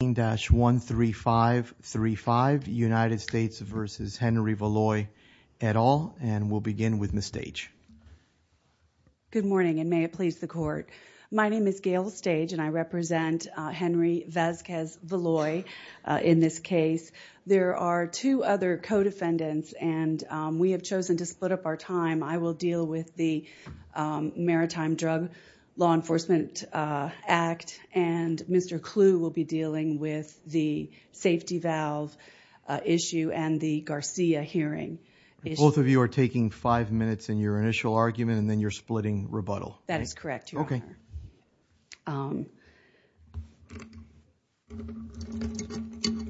and we'll begin with Ms. Stage. Good morning and may it please the court. My name is Gail Stage and I represent Henry Vasquez Valois in this case. There are two other co-defendants and we have chosen to split up our time. I will deal with the Maritime Drug Law Enforcement Act and Mr. Clu will be dealing with the safety valve issue and the Garcia hearing. Both of you are taking five minutes in your initial argument and then you're splitting rebuttal. That is correct, Your Honor.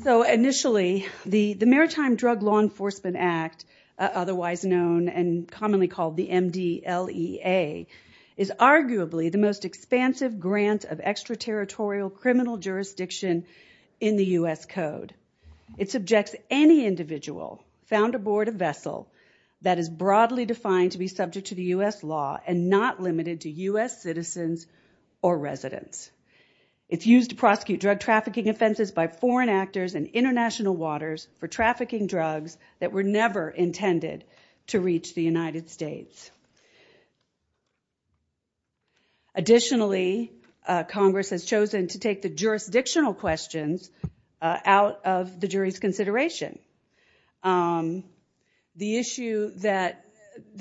So, initially, the Maritime Drug Law Enforcement Act, otherwise known and commonly called the MDLEA, is arguably the most expansive grant of extraterritorial criminal jurisdiction in the U.S. Code. It subjects any individual found aboard a vessel that is broadly defined to be subject to the U.S. law and not limited to U.S. citizens or residents. It's used to prosecute drug trafficking offenses by foreign actors in international waters for trafficking drugs that were never intended to reach the United States. Additionally, Congress has chosen to take the jurisdictional questions out of the jury's consideration. The issue that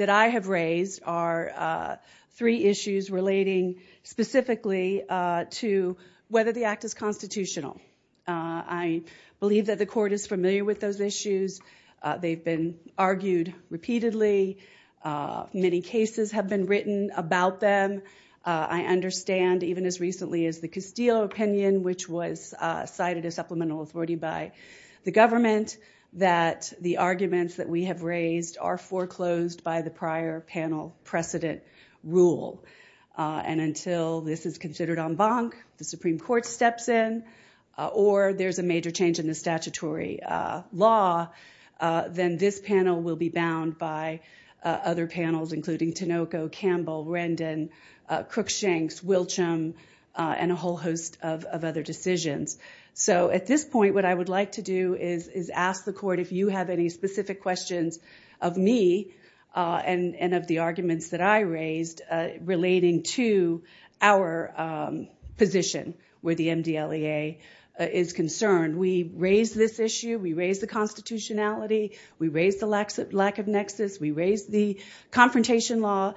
I have raised are three issues relating specifically to whether the act is constitutional. I believe that the court is familiar with those issues. They've been argued repeatedly. Many cases have been written about them. I understand, even as recently as the Castillo opinion, which was cited as supplemental authority by the government, that the arguments that we have raised are foreclosed by the prior panel precedent rule. And until this is considered en banc, the Supreme Court steps in, or there's a major change in the statutory law, then this panel will be bound by other panels, including Tinoco, Campbell, Rendon, Cruikshank, Wilcham, and a whole host of other decisions. So at this point, what I would like to do is ask the court if you have any specific questions of me and of the arguments that I raised relating to our position where the MDLEA is concerned. We raised this issue. We raised the constitutionality. We raised the lack of nexus. We raised the confrontation law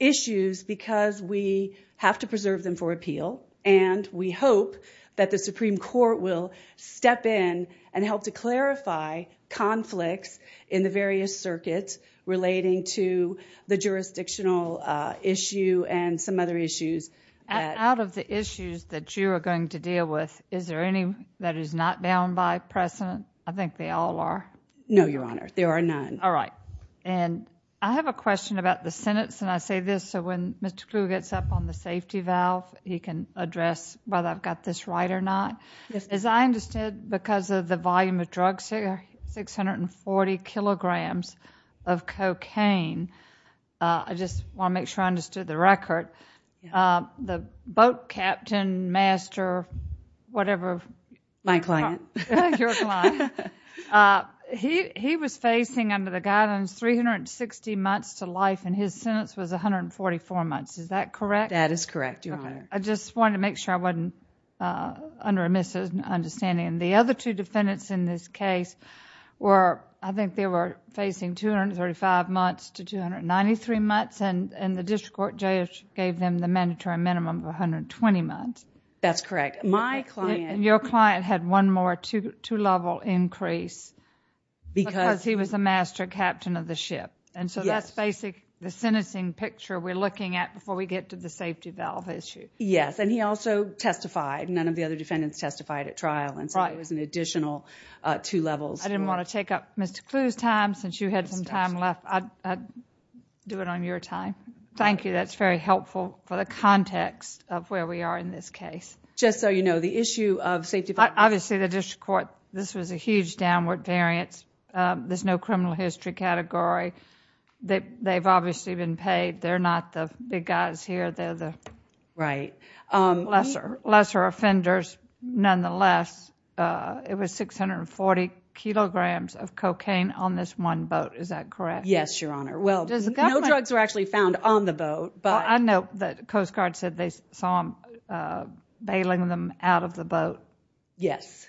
issues because we have to preserve them for appeal. And we hope that the Supreme Court will step in and help to clarify conflicts in the various circuits relating to the jurisdictional issue and some other issues. Out of the issues that you are going to deal with, is there any that is not bound by precedent? I think they all are. No, Your Honor. There are none. All right. And I have a question about the Senate, and I say this so when Mr. Kluge gets up on the podium to address whether I have got this right or not. As I understood, because of the volume of drugs here, 640 kilograms of cocaine, I just want to make sure I understood the record, the boat captain, master, whatever... My client. Your client. He was facing under the guidance 360 months to life, and his sentence was 144 months. Is that correct? That is correct, Your Honor. I just wanted to make sure I wasn't under a misunderstanding. The other two defendants in this case were, I think they were facing 235 months to 293 months, and the district court judge gave them the mandatory minimum of 120 months. That's correct. My client... Your client had one more two-level increase because he was the master captain of the ship, and so that's basically the sentencing picture we are looking at before we get to the safety valve issue. Yes. He also testified. None of the other defendants testified at trial, and so there was an additional two levels. I didn't want to take up Mr. Kluge's time, since you had some time left, I'd do it on your time. Thank you. That's very helpful for the context of where we are in this case. Just so you know, the issue of safety valve... Obviously, the district court... this was a huge downward variance. There's no criminal history category. They've obviously been paid. They're not the big guys here. They're the... Right.... lesser offenders, nonetheless. It was 640 kilograms of cocaine on this one boat. Is that correct? Yes, Your Honor. Well, no drugs were actually found on the boat, but... I know that Coast Guard said they saw him bailing them out of the boat. Yes.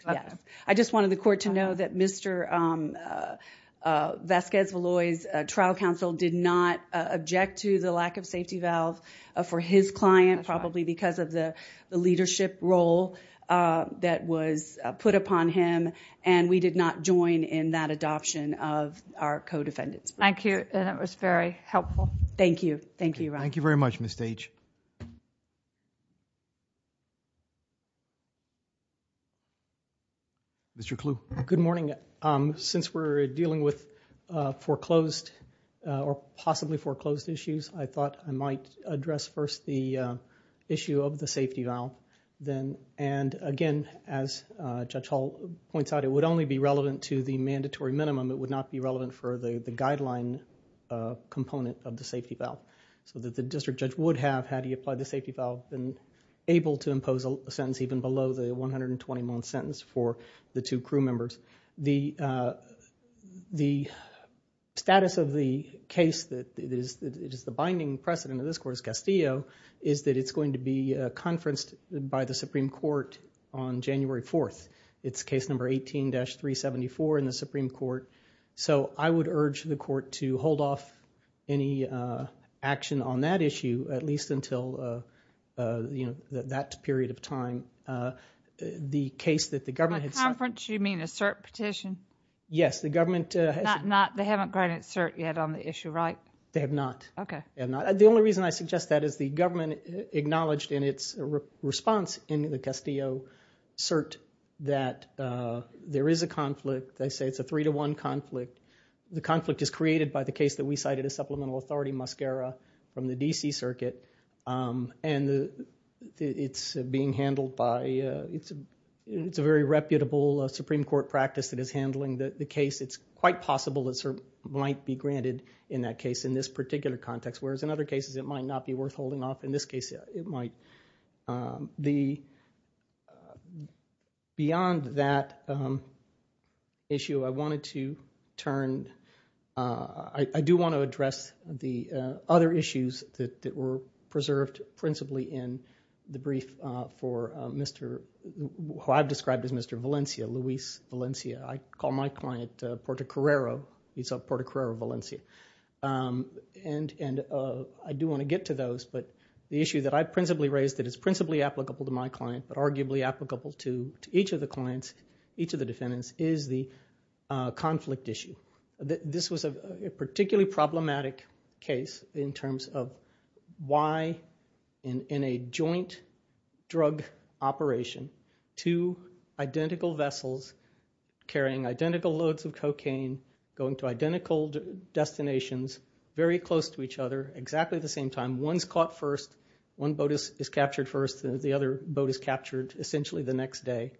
I just wanted the court to know that Mr. Vasquez-Veloz's trial counsel did not object to the lack of his client, probably because of the leadership role that was put upon him, and we did not join in that adoption of our co-defendants. Thank you. That was very helpful. Thank you. Thank you, Your Honor. Thank you very much, Ms. Stage. Mr. Kluge. Good morning. Since we're dealing with foreclosed, or possibly foreclosed issues, I thought I might address first the issue of the safety valve, and again, as Judge Hall points out, it would only be relevant to the mandatory minimum. It would not be relevant for the guideline component of the safety valve, so that the district judge would have, had he applied the safety valve, been able to impose a sentence even below the 120-month sentence for the two crew members. The status of the case that is the binding precedent of this court, as Castillo, is that it's going to be conferenced by the Supreme Court on January 4th. It's case number 18-374 in the Supreme Court. So I would urge the court to hold off any action on that issue, at least until that period of time. The case that the government... By conference, you mean a cert petition? Yes. The government... Not, they haven't granted cert yet on the issue, right? They have not. Okay. They have not. The only reason I suggest that is the government acknowledged in its response in the Castillo cert that there is a conflict. They say it's a three-to-one conflict. The conflict is created by the case that we cited as supplemental authority, Muscara, from the D.C. Circuit, and it's being handled by... it's a very reputable Supreme Court practice that is handling the case. It's quite possible that cert might be granted in that case in this particular context, whereas in other cases it might not be worth holding off. In this case, it might. Beyond that issue, I wanted to turn... I do want to address the other issues that were preserved principally in the brief for Mr.... who I've described as Mr. Valencia, Luis Valencia. I call my client Puerto Carrero, he's of Puerto Carrero, Valencia. I do want to get to those, but the issue that I principally raised that is principally applicable to my client, but arguably applicable to each of the clients, each of the defendants, is the conflict issue. This was a particularly problematic case in terms of why, in a joint drug operation, two destinations, very close to each other, exactly the same time, one's caught first, one boat is captured first, and the other boat is captured essentially the next day.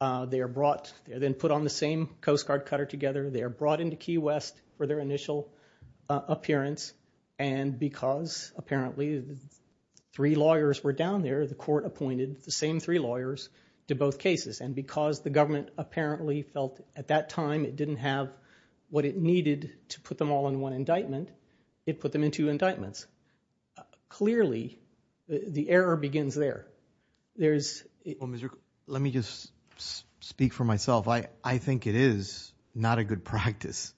They are brought... they're then put on the same Coast Guard cutter together, they are brought into Key West for their initial appearance, and because apparently three lawyers were down there, the court appointed the same three lawyers to both cases, and because the government apparently felt at that time it didn't have what it needed to put them all in one indictment, it put them in two indictments. Clearly, the error begins there. There is... Well, Mr.... let me just speak for myself. I think it is not a good practice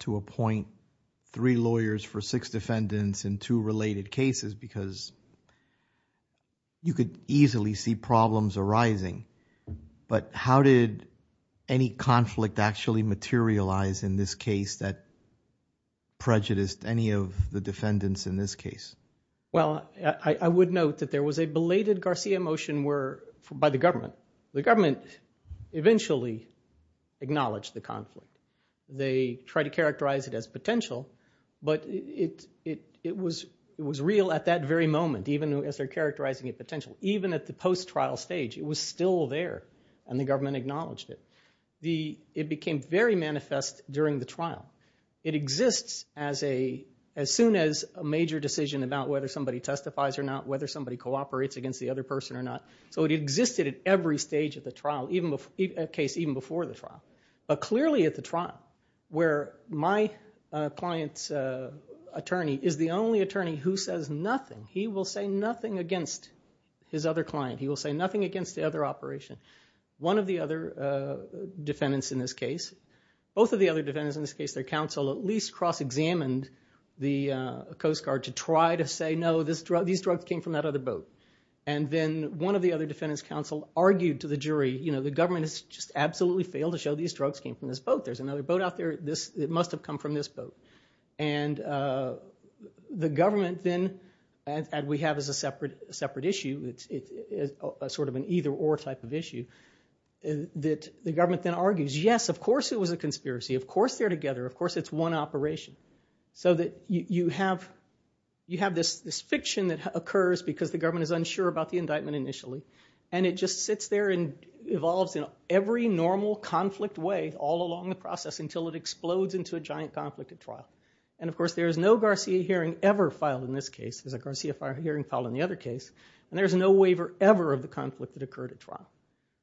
to appoint three lawyers for six defendants in two related cases because you could easily see problems arising, but how did any conflict actually materialize in this case that prejudiced any of the defendants in this case? Well, I would note that there was a belated Garcia motion by the government. The government eventually acknowledged the conflict. They tried to characterize it as potential, but it was real at that very moment, even as they're characterizing it potential. Even at the post-trial stage, it was still there, and the government acknowledged it. It became very manifest during the trial. It exists as soon as a major decision about whether somebody testifies or not, whether somebody cooperates against the other person or not. So it existed at every stage of the trial, a case even before the trial, but clearly at the trial where my client's attorney is the only attorney who says nothing. He will say nothing against his other client. He will say nothing against the other operation. One of the other defendants in this case, both of the other defendants in this case, their counsel at least cross-examined the Coast Guard to try to say, no, these drugs came from that other boat. And then one of the other defendants' counsel argued to the jury, you know, the government has just absolutely failed to show these drugs came from this boat. There's another boat out there. It must have come from this boat. And the government then, as we have as a separate issue, it's sort of an either-or type of issue, that the government then argues, yes, of course it was a conspiracy. Of course they're together. Of course it's one operation. So that you have this fiction that occurs because the government is unsure about the indictment initially. And it just sits there and evolves in every normal conflict way all along the process until it explodes into a giant conflict at trial. And of course there is no Garcia hearing ever filed in this case, as a Garcia hearing filed in the other case. And there's no waiver ever of the conflict that occurred at trial.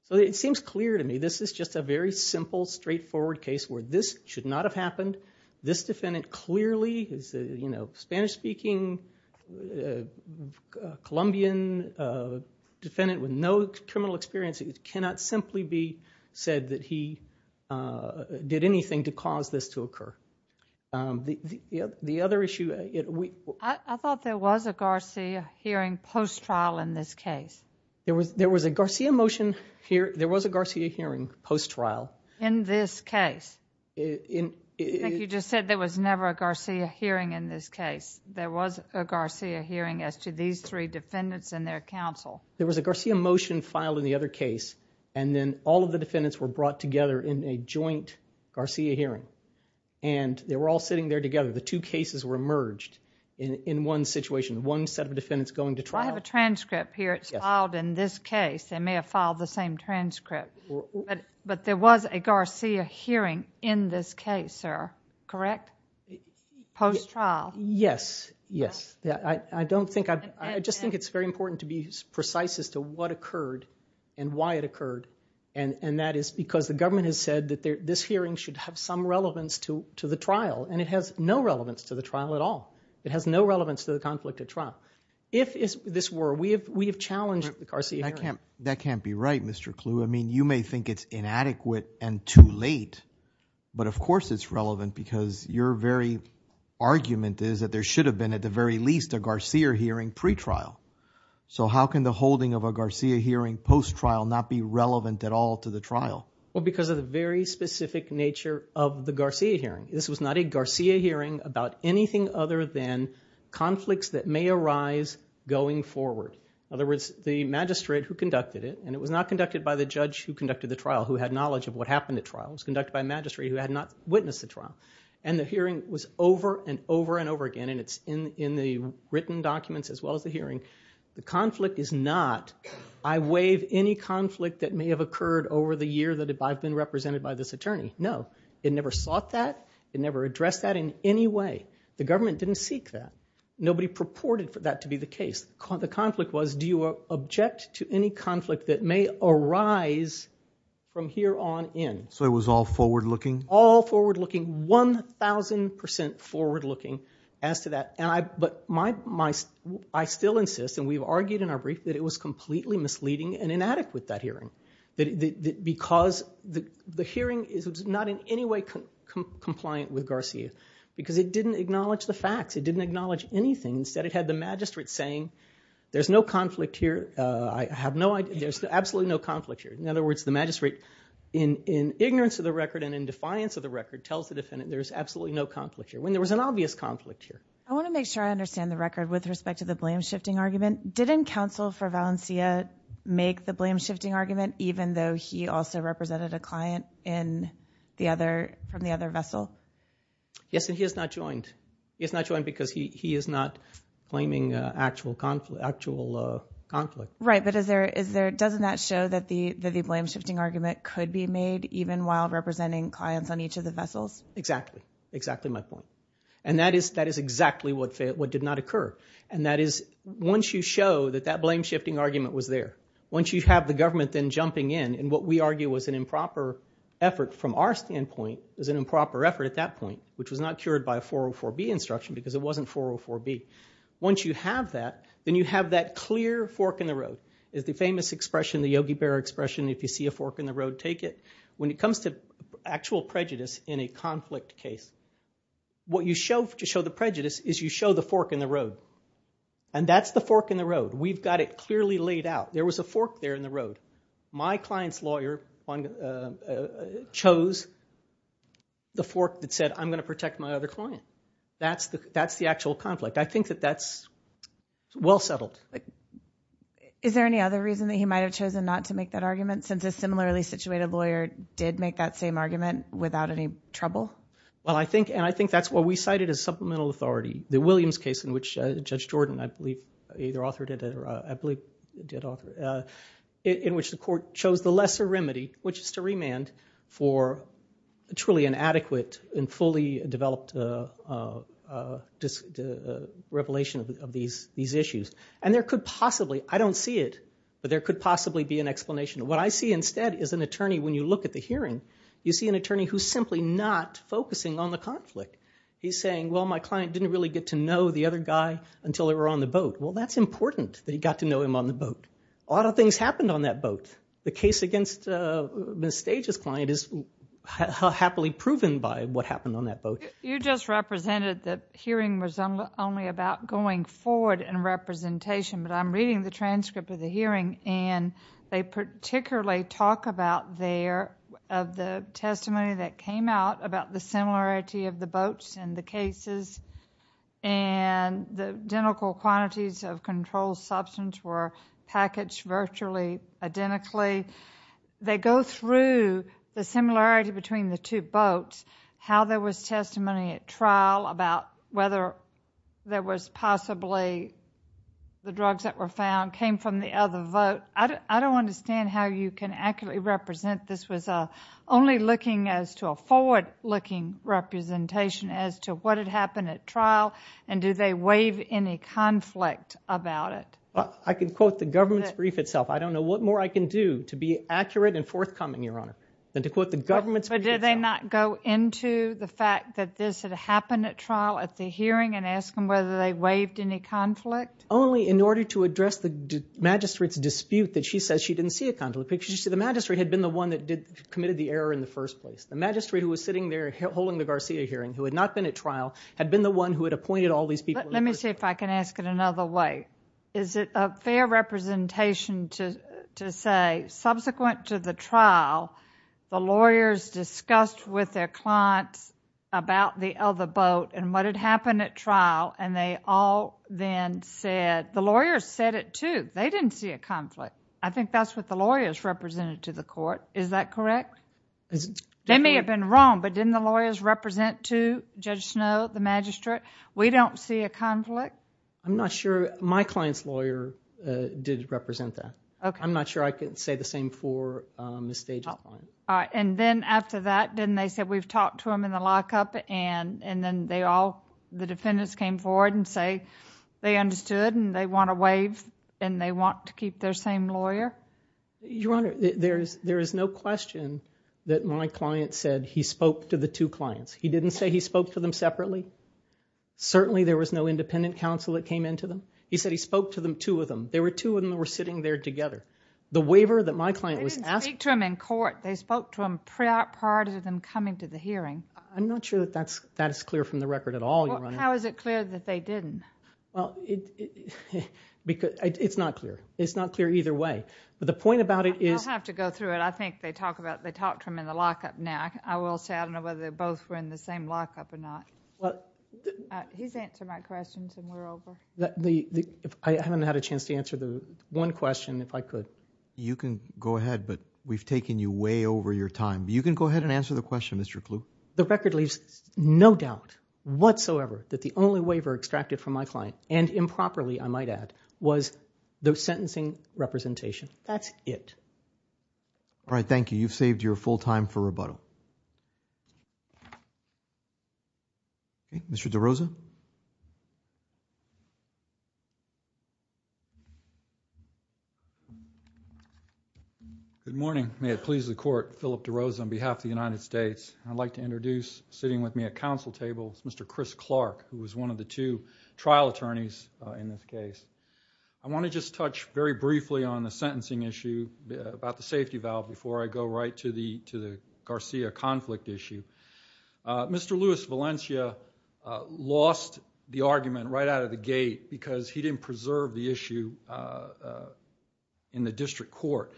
So it seems clear to me this is just a very simple, straightforward case where this should not have happened. This defendant clearly is a, you know, Spanish-speaking, Colombian defendant with no criminal experience. It cannot simply be said that he did anything to cause this to occur. The other issue... I thought there was a Garcia hearing post-trial in this case. There was a Garcia motion, there was a Garcia hearing post-trial. In this case? I think you just said there was never a Garcia hearing in this case. There was a Garcia hearing as to these three defendants and their counsel. There was a Garcia motion filed in the other case, and then all of the defendants were brought together in a joint Garcia hearing. And they were all sitting there together. The two cases were merged in one situation. One set of defendants going to trial. I have a transcript here. It's filed in this case. They may have filed the same transcript. But there was a Garcia hearing in this case, sir. Correct? Post-trial. Yes. Yes. I don't think... I just think it's very important to be precise as to what occurred and why it occurred. And that is because the government has said that this hearing should have some relevance to the trial. And it has no relevance to the trial at all. It has no relevance to the conflict at trial. If this were... We have challenged the Garcia hearing. That can't be right, Mr. Kluwe. I mean, you may think it's inadequate and too late, but of course it's relevant because your very argument is that there should have been at the very least a Garcia hearing pretrial. So how can the holding of a Garcia hearing post-trial not be relevant at all to the trial? Well, because of the very specific nature of the Garcia hearing. This was not a Garcia hearing about anything other than conflicts that may arise going forward. In other words, the magistrate who conducted it, and it was not conducted by the judge who conducted the trial, who had knowledge of what happened at trial. It was conducted by a magistrate who had not witnessed the trial. And the hearing was over and over and over again, and it's in the written documents as well as the hearing. The conflict is not, I waive any conflict that may have occurred over the year that I've been represented by this attorney. No. It never sought that. It never addressed that in any way. The government didn't seek that. Nobody purported for that to be the case. The conflict was, do you object to any conflict that may arise from here on in? So it was all forward-looking? All forward-looking, 1,000% forward-looking as to that. But I still insist, and we've argued in our brief, that it was completely misleading and in no way compliant with Garcia, because it didn't acknowledge the facts. It didn't acknowledge anything. Instead, it had the magistrate saying, there's no conflict here. I have no idea. There's absolutely no conflict here. In other words, the magistrate, in ignorance of the record and in defiance of the record, tells the defendant there's absolutely no conflict here, when there was an obvious conflict here. I want to make sure I understand the record with respect to the blame-shifting argument. Didn't counsel for Valencia make the blame-shifting argument, even though he also represented a client from the other vessel? Yes, and he has not joined. He has not joined because he is not claiming actual conflict. Right, but doesn't that show that the blame-shifting argument could be made, even while representing clients on each of the vessels? Exactly. Exactly my point. And that is exactly what did not occur. And that is, once you show that that blame-shifting argument was there, once you have the government then jumping in in what we argue was an improper effort from our standpoint, was an improper effort at that point, which was not cured by a 404B instruction because it wasn't 404B. Once you have that, then you have that clear fork in the road, is the famous expression, the Yogi Berra expression, if you see a fork in the road, take it. When it comes to actual prejudice in a conflict case, what you show to show the prejudice is you show the fork in the road. And that's the fork in the road. We've got it clearly laid out. There was a fork there in the road. My client's lawyer chose the fork that said, I'm going to protect my other client. That's the actual conflict. I think that that's well settled. Is there any other reason that he might have chosen not to make that argument since a similarly situated lawyer did make that same argument without any trouble? Well, I think, and I think that's what we cited as supplemental authority. The Williams case in which Judge Jordan, I believe, either authored it or I believe did author it, in which the court chose the lesser remedy, which is to remand for a truly inadequate and fully developed revelation of these issues. And there could possibly, I don't see it, but there could possibly be an explanation. What I see instead is an attorney, when you look at the hearing, you see an attorney who's simply not focusing on the conflict. He's saying, well, my client didn't really get to know the other guy until they were on the boat. Well, that's important that he got to know him on the boat. A lot of things happened on that boat. The case against Ms. Stages' client is happily proven by what happened on that boat. You just represented the hearing was only about going forward in representation, but I'm reading the transcript of the hearing and they particularly talk about their, of the testimony that came out about the similarity of the boats and the cases and the identical quantities of controlled substance were packaged virtually identically. They go through the similarity between the two boats, how there was testimony at trial about whether there was possibly the drugs that were found came from the other boat. I don't understand how you can accurately represent this was only looking as to a forward looking representation as to what had happened at trial and do they waive any conflict about it? I can quote the government's brief itself. I don't know what more I can do to be accurate and forthcoming, Your Honor, than to quote the government's brief itself. But did they not go into the fact that this had happened at trial at the hearing and ask them whether they waived any conflict? Only in order to address the magistrate's dispute that she says she didn't see a conflict. Because you see, the magistrate had been the one that committed the error in the first place. The magistrate who was sitting there holding the Garcia hearing, who had not been at trial, had been the one who had appointed all these people. Let me see if I can ask it another way. Is it a fair representation to say, subsequent to the trial, the lawyers discussed with their about and what had happened at trial and they all then said, the lawyers said it too. They didn't see a conflict. I think that's what the lawyers represented to the court. Is that correct? They may have been wrong, but didn't the lawyers represent too, Judge Snow, the magistrate? We don't see a conflict? I'm not sure. My client's lawyer did represent that. I'm not sure I can say the same for Ms. Stages' client. And then after that, didn't they say, we've talked to them in the lockup and then they all, the defendants came forward and say they understood and they want to waive and they want to keep their same lawyer? Your Honor, there is no question that my client said he spoke to the two clients. He didn't say he spoke to them separately. Certainly there was no independent counsel that came in to them. He said he spoke to them, two of them. There were two of them that were sitting there together. They didn't speak to him in court. They spoke to him prior to them coming to the hearing. I'm not sure that that's clear from the record at all, Your Honor. How is it clear that they didn't? Well, it's not clear. It's not clear either way. But the point about it is- You'll have to go through it. I think they talked to him in the lockup now. I will say I don't know whether they both were in the same lockup or not. He's answered my questions and we're over. I haven't had a chance to answer the one question, if I could. You can go ahead, but we've taken you way over your time. You can go ahead and answer the question, Mr. Kluge. The record leaves no doubt whatsoever that the only waiver extracted from my client, and improperly, I might add, was the sentencing representation. That's it. All right, thank you. You've saved your full time for rebuttal. Mr. DeRosa? Good morning. May it please the court. Philip DeRosa on behalf of the United States. I'd like to introduce, sitting with me at council table, Mr. Chris Clark, who was one of the two trial attorneys in this case. I want to just touch very briefly on the sentencing issue about the safety valve before I go right to the Garcia conflict issue. Mr. Luis Valencia lost the argument right out of the gate because he didn't preserve the issue in the district court,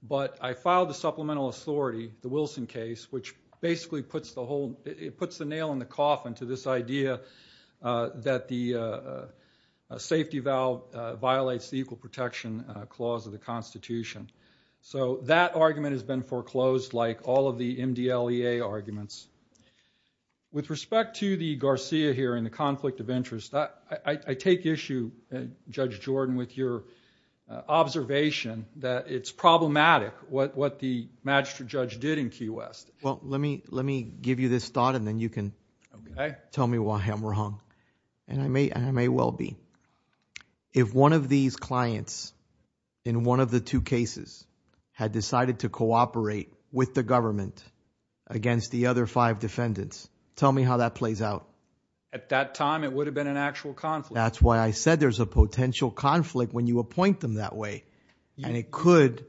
but I filed the supplemental authority, the Wilson case, which basically puts the nail in the coffin to this idea that the safety valve violates the equal protection clause of the Constitution. That argument has been foreclosed like all of the MDLEA arguments. With respect to the Garcia here and the conflict of interest, I take issue, Judge Jordan, with your observation that it's problematic what the magistrate judge did in Key West. Let me give you this thought and then you can tell me why I'm wrong. I may well be. If one of these clients in one of the two cases had decided to cooperate with the government against the other five defendants, tell me how that plays out. At that time, it would have been an actual conflict. That's why I said there's a potential conflict when you appoint them that way, and it could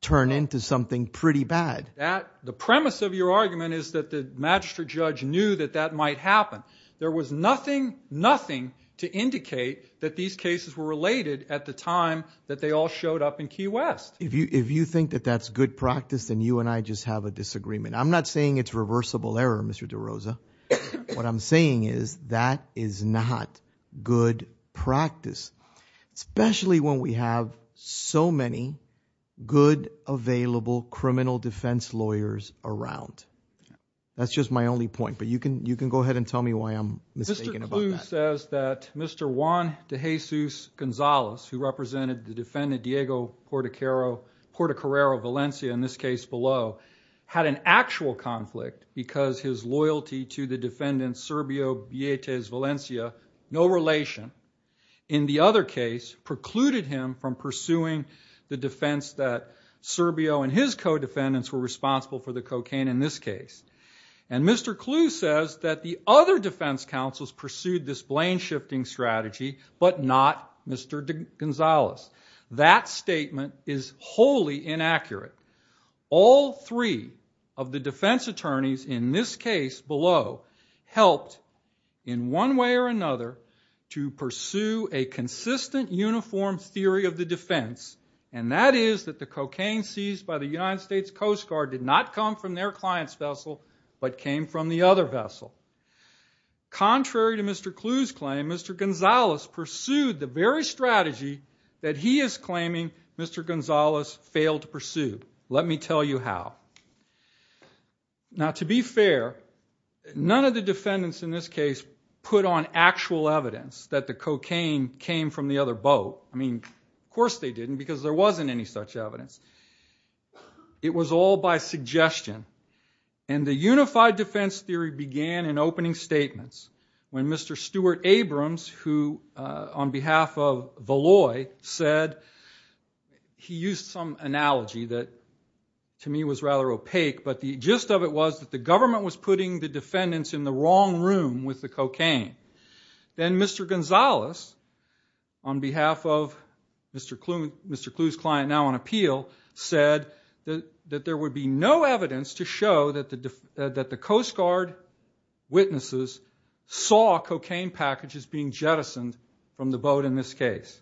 turn into something pretty bad. The premise of your argument is that the magistrate judge knew that that might happen. There was nothing, nothing to indicate that these cases were related at the time that they all showed up in Key West. If you think that that's good practice, then you and I just have a disagreement. I'm not saying it's reversible error, Mr. DeRosa. What I'm saying is that is not good practice, especially when we have so many good available criminal defense lawyers around. That's just my only point, but you can go ahead and tell me why I'm mistaken about that. Mr. DeRosa says that Mr. Juan De Jesus Gonzalez, who represented the defendant Diego Portocarrero Valencia in this case below, had an actual conflict because his loyalty to the defendant Serbio Vietes Valencia, no relation, in the other case, precluded him from pursuing the defense that Serbio and his co-defendants were responsible for the cocaine in this case. Mr. Clu says that the other defense counsels pursued this blame shifting strategy, but not Mr. Gonzalez. That statement is wholly inaccurate. All three of the defense attorneys in this case below helped, in one way or another, to pursue a consistent uniform theory of the defense, and that is that the cocaine seized by the United States Coast Guard did not come from their client's vessel, but came from the other vessel. Contrary to Mr. Clu's claim, Mr. Gonzalez pursued the very strategy that he is claiming Mr. Gonzalez failed to pursue. Let me tell you how. To be fair, none of the defendants in this case put on actual evidence that the cocaine came from the other boat. Of course they didn't, because there wasn't any such evidence. It was all by suggestion, and the unified defense theory began in opening statements when Mr. Stuart Abrams, who on behalf of Valoi said, he used some analogy that to me was rather opaque, but the gist of it was that the government was putting the defendants in the wrong room with the cocaine. Then Mr. Gonzalez, on behalf of Mr. Clu's client now on appeal, said that there would be no evidence to show that the Coast Guard witnesses saw cocaine packages being jettisoned from the boat in this case.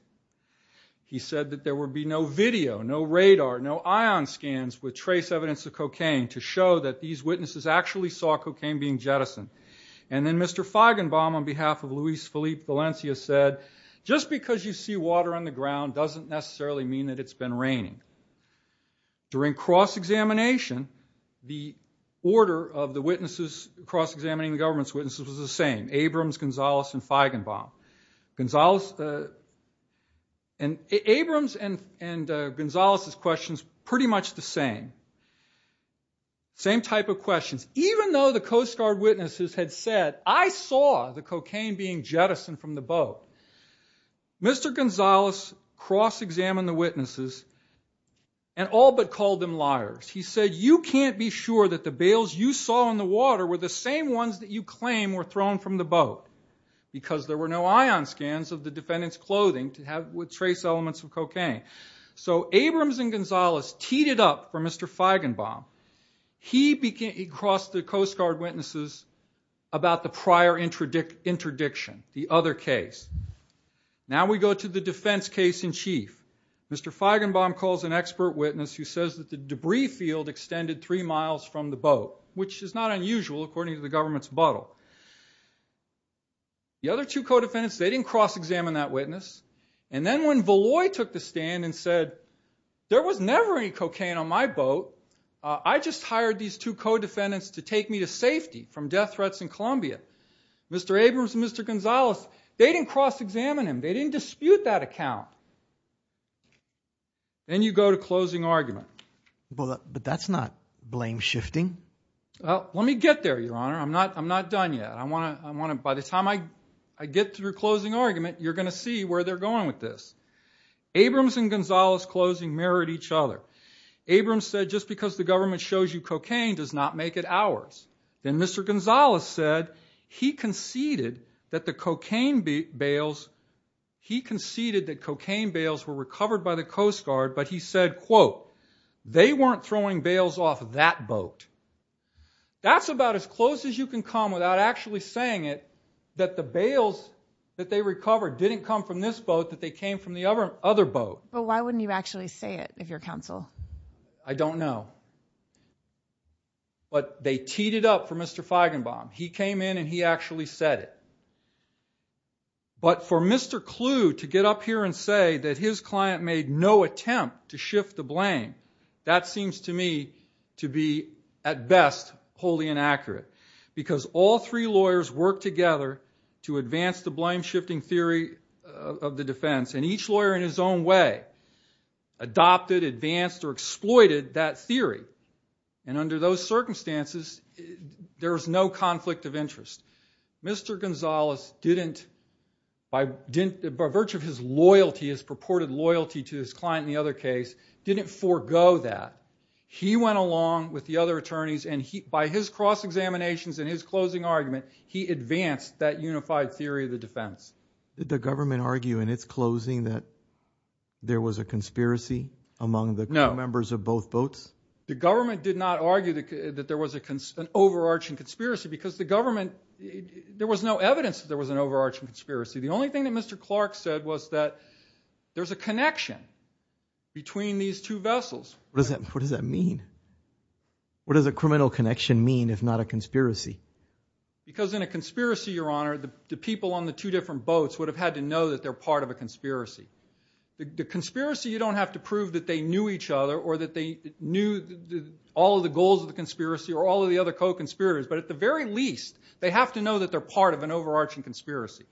He said that there would be no video, no radar, no ion scans with trace evidence of cocaine to show that these witnesses actually saw cocaine being jettisoned. Then Mr. Feigenbaum on behalf of Luis Felipe Valencia said, just because you see water on the ground doesn't necessarily mean that it's been raining. During cross-examination, the order of the witnesses cross-examining the government's witnesses was the same, Abrams, Gonzalez, and Feigenbaum. Abrams and Gonzalez's questions pretty much the same. Same type of questions. Even though the Coast Guard witnesses had said, I saw the cocaine being jettisoned from the boat, Mr. Gonzalez cross-examined the witnesses and all but called them liars. He said, you can't be sure that the bales you saw in the water were the same ones that you claim were thrown from the boat because there were no ion scans of the defendant's clothing to have with trace elements of cocaine. So Abrams and Gonzalez teed it up for Mr. Feigenbaum. He crossed the Coast Guard witnesses about the prior interdiction, the other case. Now we go to the defense case in chief. Mr. Feigenbaum calls an expert witness who says that the debris field extended three miles from the boat, which is not unusual according to the government's bottle. The other two co-defendants, they didn't cross-examine that witness. And then when Voloy took the stand and said, there was never any cocaine on my boat. I just hired these two co-defendants to take me to safety from death threats in Columbia. Mr. Abrams and Mr. Gonzalez, they didn't cross-examine him. They didn't dispute that account. Then you go to closing argument. But that's not blame shifting. Let me get there, Your Honor. I'm not done yet. By the time I get through closing argument, you're going to see where they're going with this. Abrams and Gonzalez closing mirrored each other. Abrams said, just because the government shows you cocaine does not make it ours. Then Mr. Gonzalez said he conceded that the cocaine bales were recovered by the Coast Guard, but he said, quote, they weren't throwing bales off of that boat. That's about as close as you can come without actually saying it that the bales that they recovered didn't come from this boat, that they came from the other boat. But why wouldn't you actually say it if you're counsel? I don't know. But they teed it up for Mr. Feigenbaum. He came in and he actually said it. But for Mr. Clue to get up here and say that his client made no attempt to shift the blame, that seems to me to be, at best, wholly inaccurate. Because all three lawyers worked together to advance the blame shifting theory of the defense, and each lawyer in his own way adopted, advanced, or exploited that theory. And under those circumstances, there was no conflict of interest. Mr. Gonzalez, by virtue of his purported loyalty to his client in the other case, didn't forego that. He went along with the other attorneys. And by his cross-examinations and his closing argument, he advanced that unified theory of the defense. Did the government argue in its closing that there was a conspiracy among the members of both boats? The government did not argue that there was an overarching conspiracy. Because the government, there was no evidence that there was an overarching conspiracy. The only thing that Mr. Clark said was that there's a connection between these two vessels. What does that mean? What does a criminal connection mean if not a conspiracy? Because in a conspiracy, your honor, the people on the two different boats would have had to know that they're part of a conspiracy. The conspiracy, you don't have to prove that they knew each other or that they knew all of the goals of the conspiracy or all of the other co-conspirators. But at the very least, they have to know that they're part of an overarching conspiracy.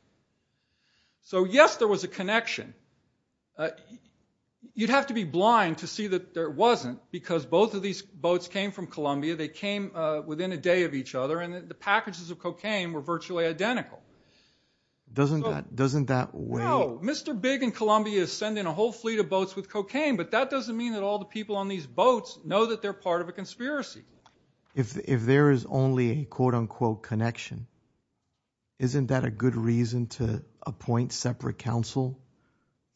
So yes, there was a connection. You'd have to be blind to see that there wasn't because both of these boats came from Columbia. They came within a day of each other. And the packages of cocaine were virtually identical. Doesn't that weigh? No. Mr. Big in Columbia is sending a whole fleet of boats with cocaine. But that doesn't mean that all the people on these boats know that they're part of a conspiracy. If there is only a quote, unquote, connection, isn't that a good reason to wait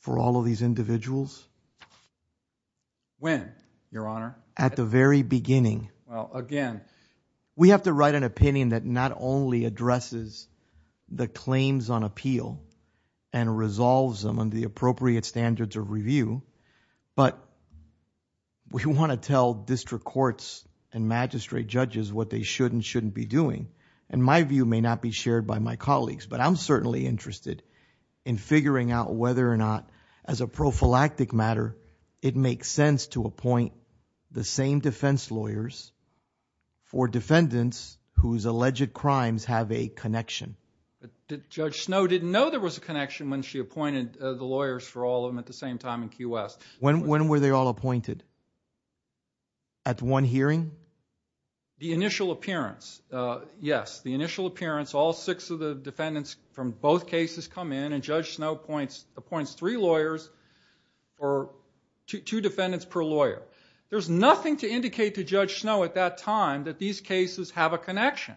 for all of these individuals? When, your honor? At the very beginning. Well, again. We have to write an opinion that not only addresses the claims on appeal and resolves them on the appropriate standards of review, but we want to tell district courts and magistrate judges what they should and shouldn't be doing. And my view may not be shared by my colleagues, but I'm certainly interested in figuring out whether or not, as a prophylactic matter, it makes sense to appoint the same defense lawyers for defendants whose alleged crimes have a connection. Judge Snow didn't know there was a connection when she appointed the lawyers for all of them at the same time in Key West. When were they all appointed? At one hearing? The initial appearance. Yes. The initial appearance. All six of the defendants from both cases come in, and Judge Snow appoints three lawyers, or two defendants per lawyer. There's nothing to indicate to Judge Snow at that time that these cases have a connection.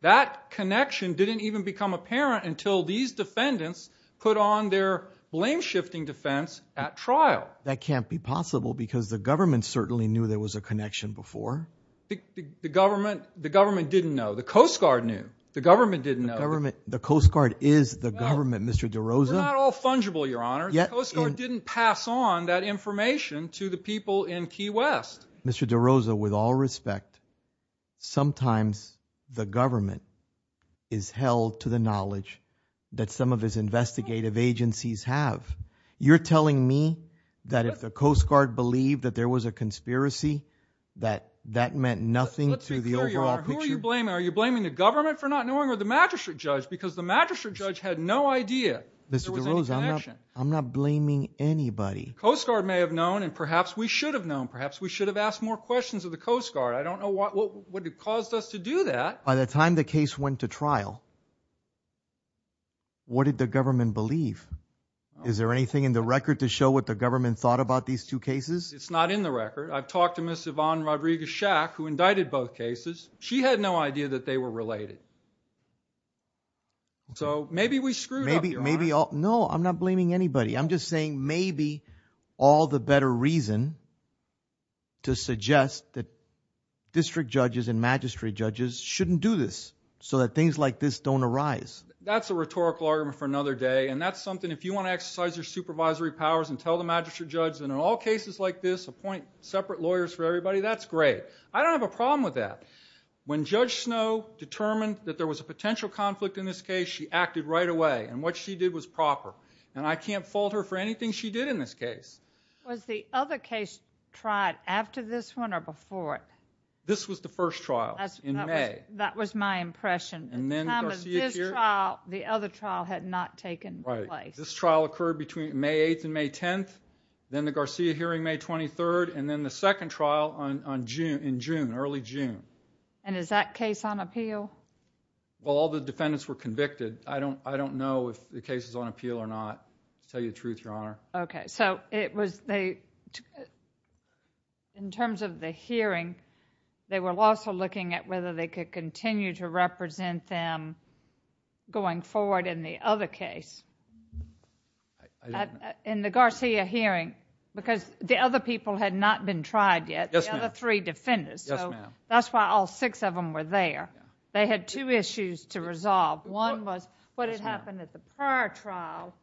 That connection didn't even become apparent until these defendants put on their blame-shifting defense at trial. That can't be possible, because the government certainly knew there was a connection before. The government didn't know. The Coast Guard knew. The government didn't know. The Coast Guard is the government, Mr. DeRosa. We're not all fungible, Your Honor. The Coast Guard didn't pass on that information to the people in Key West. Mr. DeRosa, with all respect, sometimes the government is held to the knowledge that some of his investigative agencies have. You're telling me that if the Coast Guard believed that there was a conspiracy, that that meant nothing to the overall picture? Who are you blaming? Are you blaming the government for not knowing, or the magistrate judge? Because the magistrate judge had no idea there was any connection. I'm not blaming anybody. Coast Guard may have known, and perhaps we should have known. Perhaps we should have asked more questions of the Coast Guard. I don't know what caused us to do that. By the time the case went to trial, what did the government believe? Is there anything in the record to show what the government thought about these two cases? It's not in the record. I've talked to Ms. Yvonne Rodriguez-Shack, who indicted both cases. She had no idea that they were related. So maybe we screwed up, Your Honor. No, I'm not blaming anybody. I'm just saying maybe all the better reason to suggest that district judges and magistrate judges shouldn't do this, so that things like this don't arise. That's a rhetorical argument for another day. And that's something, if you want to exercise your supervisory powers and tell the magistrate judge that in all cases like this, appoint separate lawyers for everybody, that's great. I don't have a problem with that. When Judge Snow determined that there was a potential conflict in this case, she acted right away. And what she did was proper. And I can't fault her for anything she did in this case. Was the other case tried after this one or before it? This was the first trial in May. That was my impression. At the time of this trial, the other trial had not taken place. This trial occurred between May 8 and May 10. Then the Garcia hearing May 23, and then the second trial in June, early June. And is that case on appeal? Well, all the defendants were convicted. I don't know if the case is on appeal or not, to tell you the truth, Your Honor. OK, so in terms of the hearing, they were also looking at whether they could continue to represent them going forward in the other case. I don't know. In the Garcia hearing, because the other people had not been tried yet, the other three defendants, so that's why all six of them were there. They had two issues to resolve. One was what had happened at the prior trial,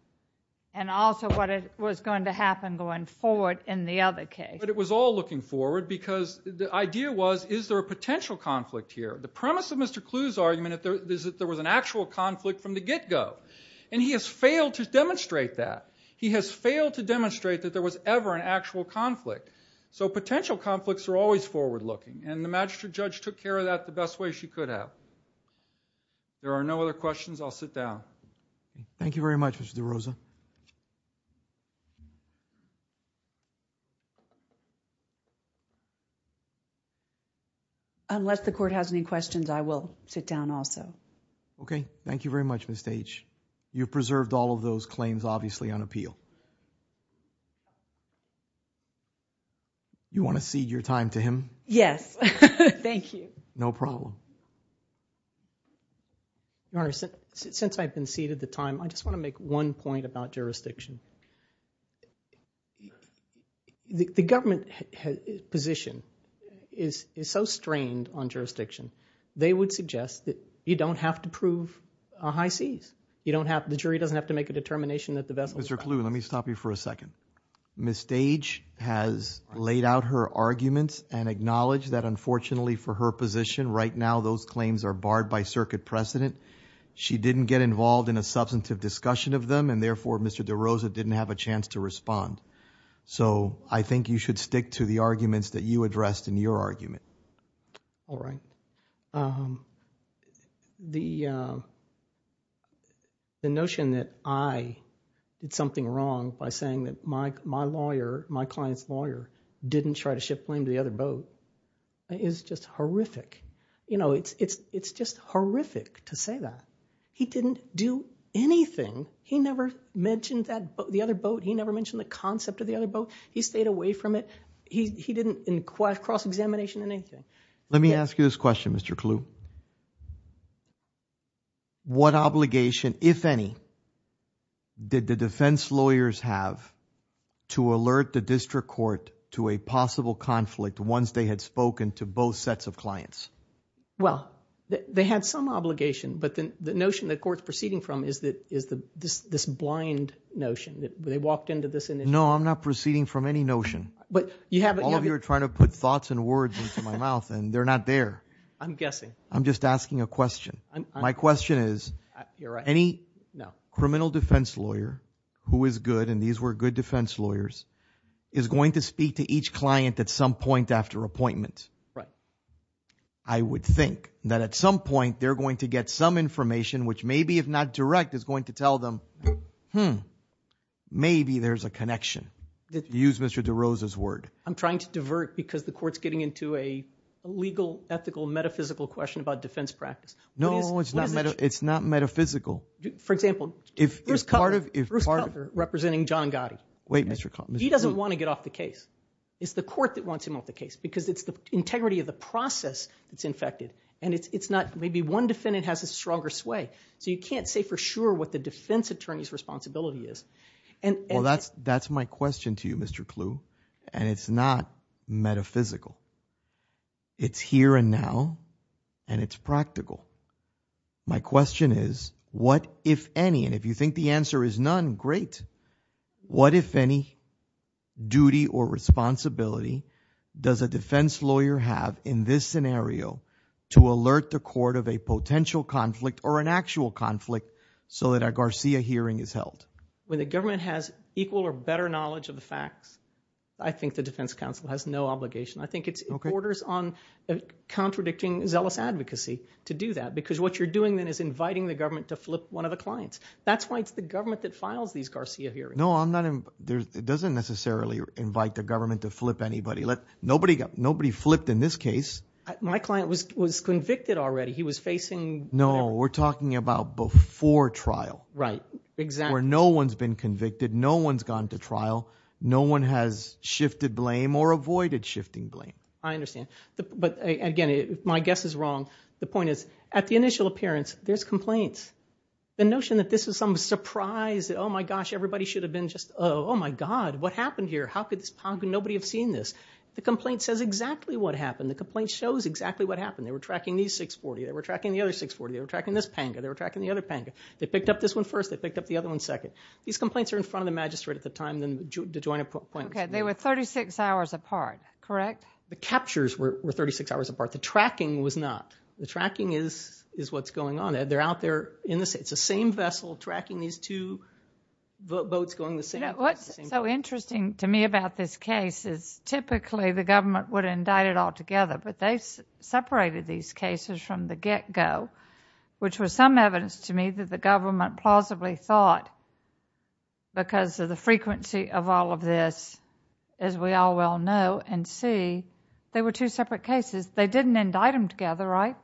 and also what was going to happen going forward in the other case. But it was all looking forward, because the idea was, is there a potential conflict here? The premise of Mr. Kluge's argument is that there was an actual conflict from the get-go. And he has failed to demonstrate that. He has failed to demonstrate that there was ever an actual conflict. So potential conflicts are always forward-looking. And the magistrate judge took care of that the best way she could have. There are no other questions. I'll sit down. Thank you very much, Mr. DeRosa. Unless the court has any questions, I will sit down also. OK. Thank you very much, Ms. Deitch. You've preserved all of those claims, obviously, on appeal. You want to cede your time to him? Yes. Thank you. No problem. Your Honor, since I've been ceded the time, I just want to make one point about jurisdiction. The government position is so strained on jurisdiction, they would suggest that you don't have to prove a high seize. The jury doesn't have to make a determination that the vessel's Mr. Kluge, let me stop you for a second. Ms. Deitch has laid out her arguments and acknowledged that, unfortunately for her position, right now those claims are barred by circuit precedent. She didn't get involved in a substantive discussion of them. And therefore, Mr. DeRosa didn't have a chance to respond. So I think you should stick to the arguments that you addressed in your argument. All right. The notion that I did something wrong by saying that my client's lawyer didn't try to shift blame to the other boat is just horrific. It's just horrific to say that. He didn't do anything. He never mentioned the other boat. He never mentioned the concept of the other boat. He stayed away from it. He didn't in cross-examination or anything. Let me ask you this question, Mr. Kluge. What obligation, if any, did the defense lawyers have to alert the district court to a possible conflict once they had spoken to both sets of clients? Well, they had some obligation. But the notion the court's proceeding from is this blind notion that they walked into this initiative. No, I'm not proceeding from any notion. All of you are trying to put thoughts and words into my mouth, and they're not there. I'm guessing. I'm just asking a question. My question is, any criminal defense lawyer who is good, and these were good defense lawyers, is going to speak to each client at some point after appointment. I would think that at some point, they're going to get some information, which maybe, if not direct, is going to tell them, hmm, maybe there's a connection. Use Mr. DeRosa's word. I'm trying to divert, because the court's getting into a legal, ethical, metaphysical question about defense practice. No, it's not metaphysical. For example, Bruce Cutler, representing John Gotti. Wait, Mr. Cutler. He doesn't want to get off the case. It's the court that wants him off the case, because it's the integrity of the process that's infected. And maybe one defendant has a stronger sway. So you can't say for sure what the defense attorney's responsibility is. Well, that's my question to you, Mr. Clue. And it's not metaphysical. It's here and now, and it's practical. My question is, what, if any, and if you think the answer is none, great. What, if any, duty or responsibility does a defense lawyer have in this scenario to alert the court of a potential conflict or an actual conflict so that a Garcia hearing is held? When the government has equal or better knowledge of the facts, I think the defense counsel has no obligation. I think it borders on contradicting zealous advocacy to do that, because what you're doing then is inviting the government to flip one of the clients. That's why it's the government that files these Garcia hearings. No, it doesn't necessarily invite the government to flip anybody. Nobody flipped in this case. My client was convicted already. He was facing. No, we're talking about before trial. Right, exactly. Where no one's been convicted. No one's gone to trial. No one has shifted blame or avoided shifting blame. I understand. But again, my guess is wrong. The point is, at the initial appearance, there's complaints. The notion that this is some surprise, that, oh my gosh, everybody should have been just, oh my god, what happened here? How could this, how could nobody have seen this? The complaint says exactly what happened. The complaint shows exactly what happened. They were tracking these 640. They were tracking the other 640. They were tracking this panga. They were tracking the other panga. They picked up this one first. They picked up the other one second. These complaints are in front of the magistrate at the time then the joint appointments. OK, they were 36 hours apart, correct? The captures were 36 hours apart. The tracking was not. The tracking is what's going on, Ed. They're out there in the same, it's the same vessel tracking these two boats going the same place. What's so interesting to me about this case is typically the government would indict it altogether, but they separated these cases from the get-go, which was some evidence to me that the government plausibly thought, because of the frequency of all of this, as we all well know and see, they were two separate cases. They didn't indict them together, right?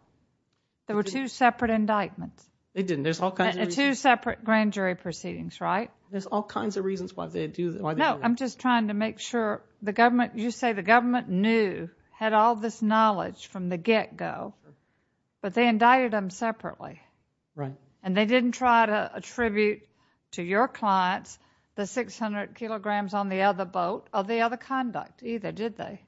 There were two separate indictments. They didn't. There's all kinds of reasons. Two separate grand jury proceedings, right? There's all kinds of reasons why they do that. No, I'm just trying to make sure the government, you say the government knew, had all this knowledge from the get-go, but they indicted them separately. Right. And they didn't try to attribute to your clients the 600 kilograms on the other boat of the other conduct either, did they?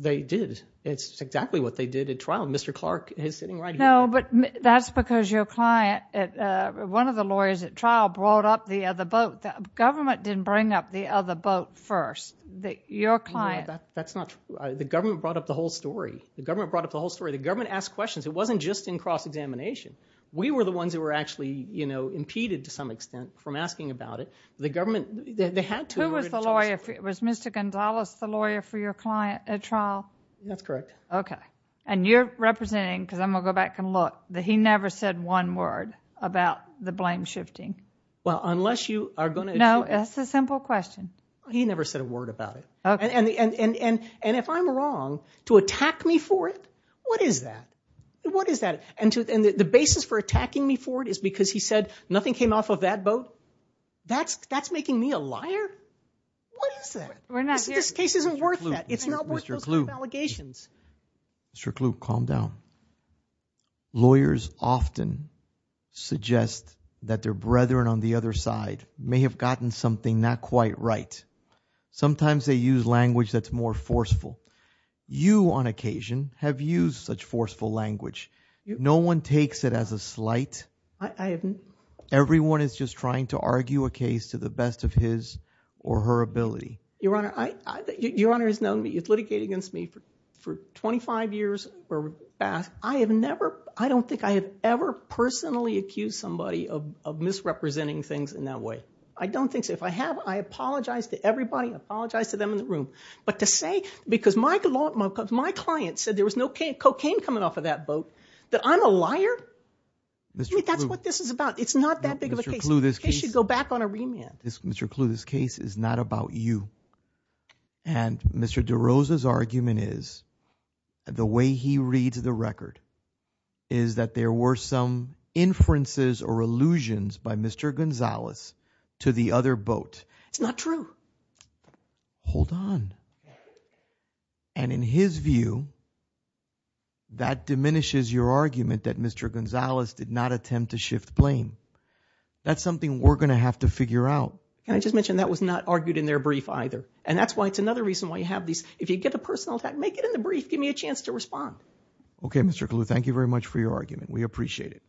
They did. It's exactly what they did at trial. Mr. Clark is sitting right here. No, but that's because your client, one of the lawyers at trial brought up the other boat. Government didn't bring up the other boat first. Your client. That's not true. The government brought up the whole story. The government brought up the whole story. The government asked questions. It wasn't just in cross-examination. We were the ones that were actually, you know, impeded to some extent from asking about it. The government, they had to. Who was the lawyer? Was Mr. Gonzales the lawyer for your client at trial? That's correct. Okay. And you're representing, because I'm going to go back and look, that he never said one word about the blame shifting. Well, unless you are going to. No, it's a simple question. He never said a word about it. Okay. And if I'm wrong, to attack me for it? What is that? What is that? And the basis for attacking me for it is because he said nothing came off of that boat? That's making me a liar? What is that? This case isn't worth that. It's not worth those allegations. Mr. Kluge, calm down. Lawyers often suggest that their brethren on the other side may have gotten something not quite right. Sometimes they use language that's more forceful. You, on occasion, have used such forceful language. No one takes it as a slight. Everyone is just trying to argue a case to the best of his or her ability. Your Honor, your Honor has litigated against me for 25 years where I have never, I don't think I have ever personally accused somebody of misrepresenting things in that way. I don't think so. If I have, I apologize to everybody. I apologize to them in the room. But to say, because my client said there was no cocaine coming off of that boat, that I'm a liar? Mr. Kluge. That's what this is about. It's not that big of a case. Mr. Kluge, this case. They should go back on a remand. Mr. Kluge, this case is not about you. And Mr. DeRosa's argument is, the way he reads the record, is that there were some inferences or allusions by Mr. Gonzalez to the other boat. It's not true. Hold on. And in his view, that diminishes your argument that Mr. Gonzalez did not attempt to shift blame. That's something we're gonna have to figure out. And I just mentioned that was not argued in their brief either. And that's why it's another reason why you have these, if you get a personal attack, make it in the brief. Give me a chance to respond. Okay, Mr. Kluge, thank you very much for your argument. We appreciate it.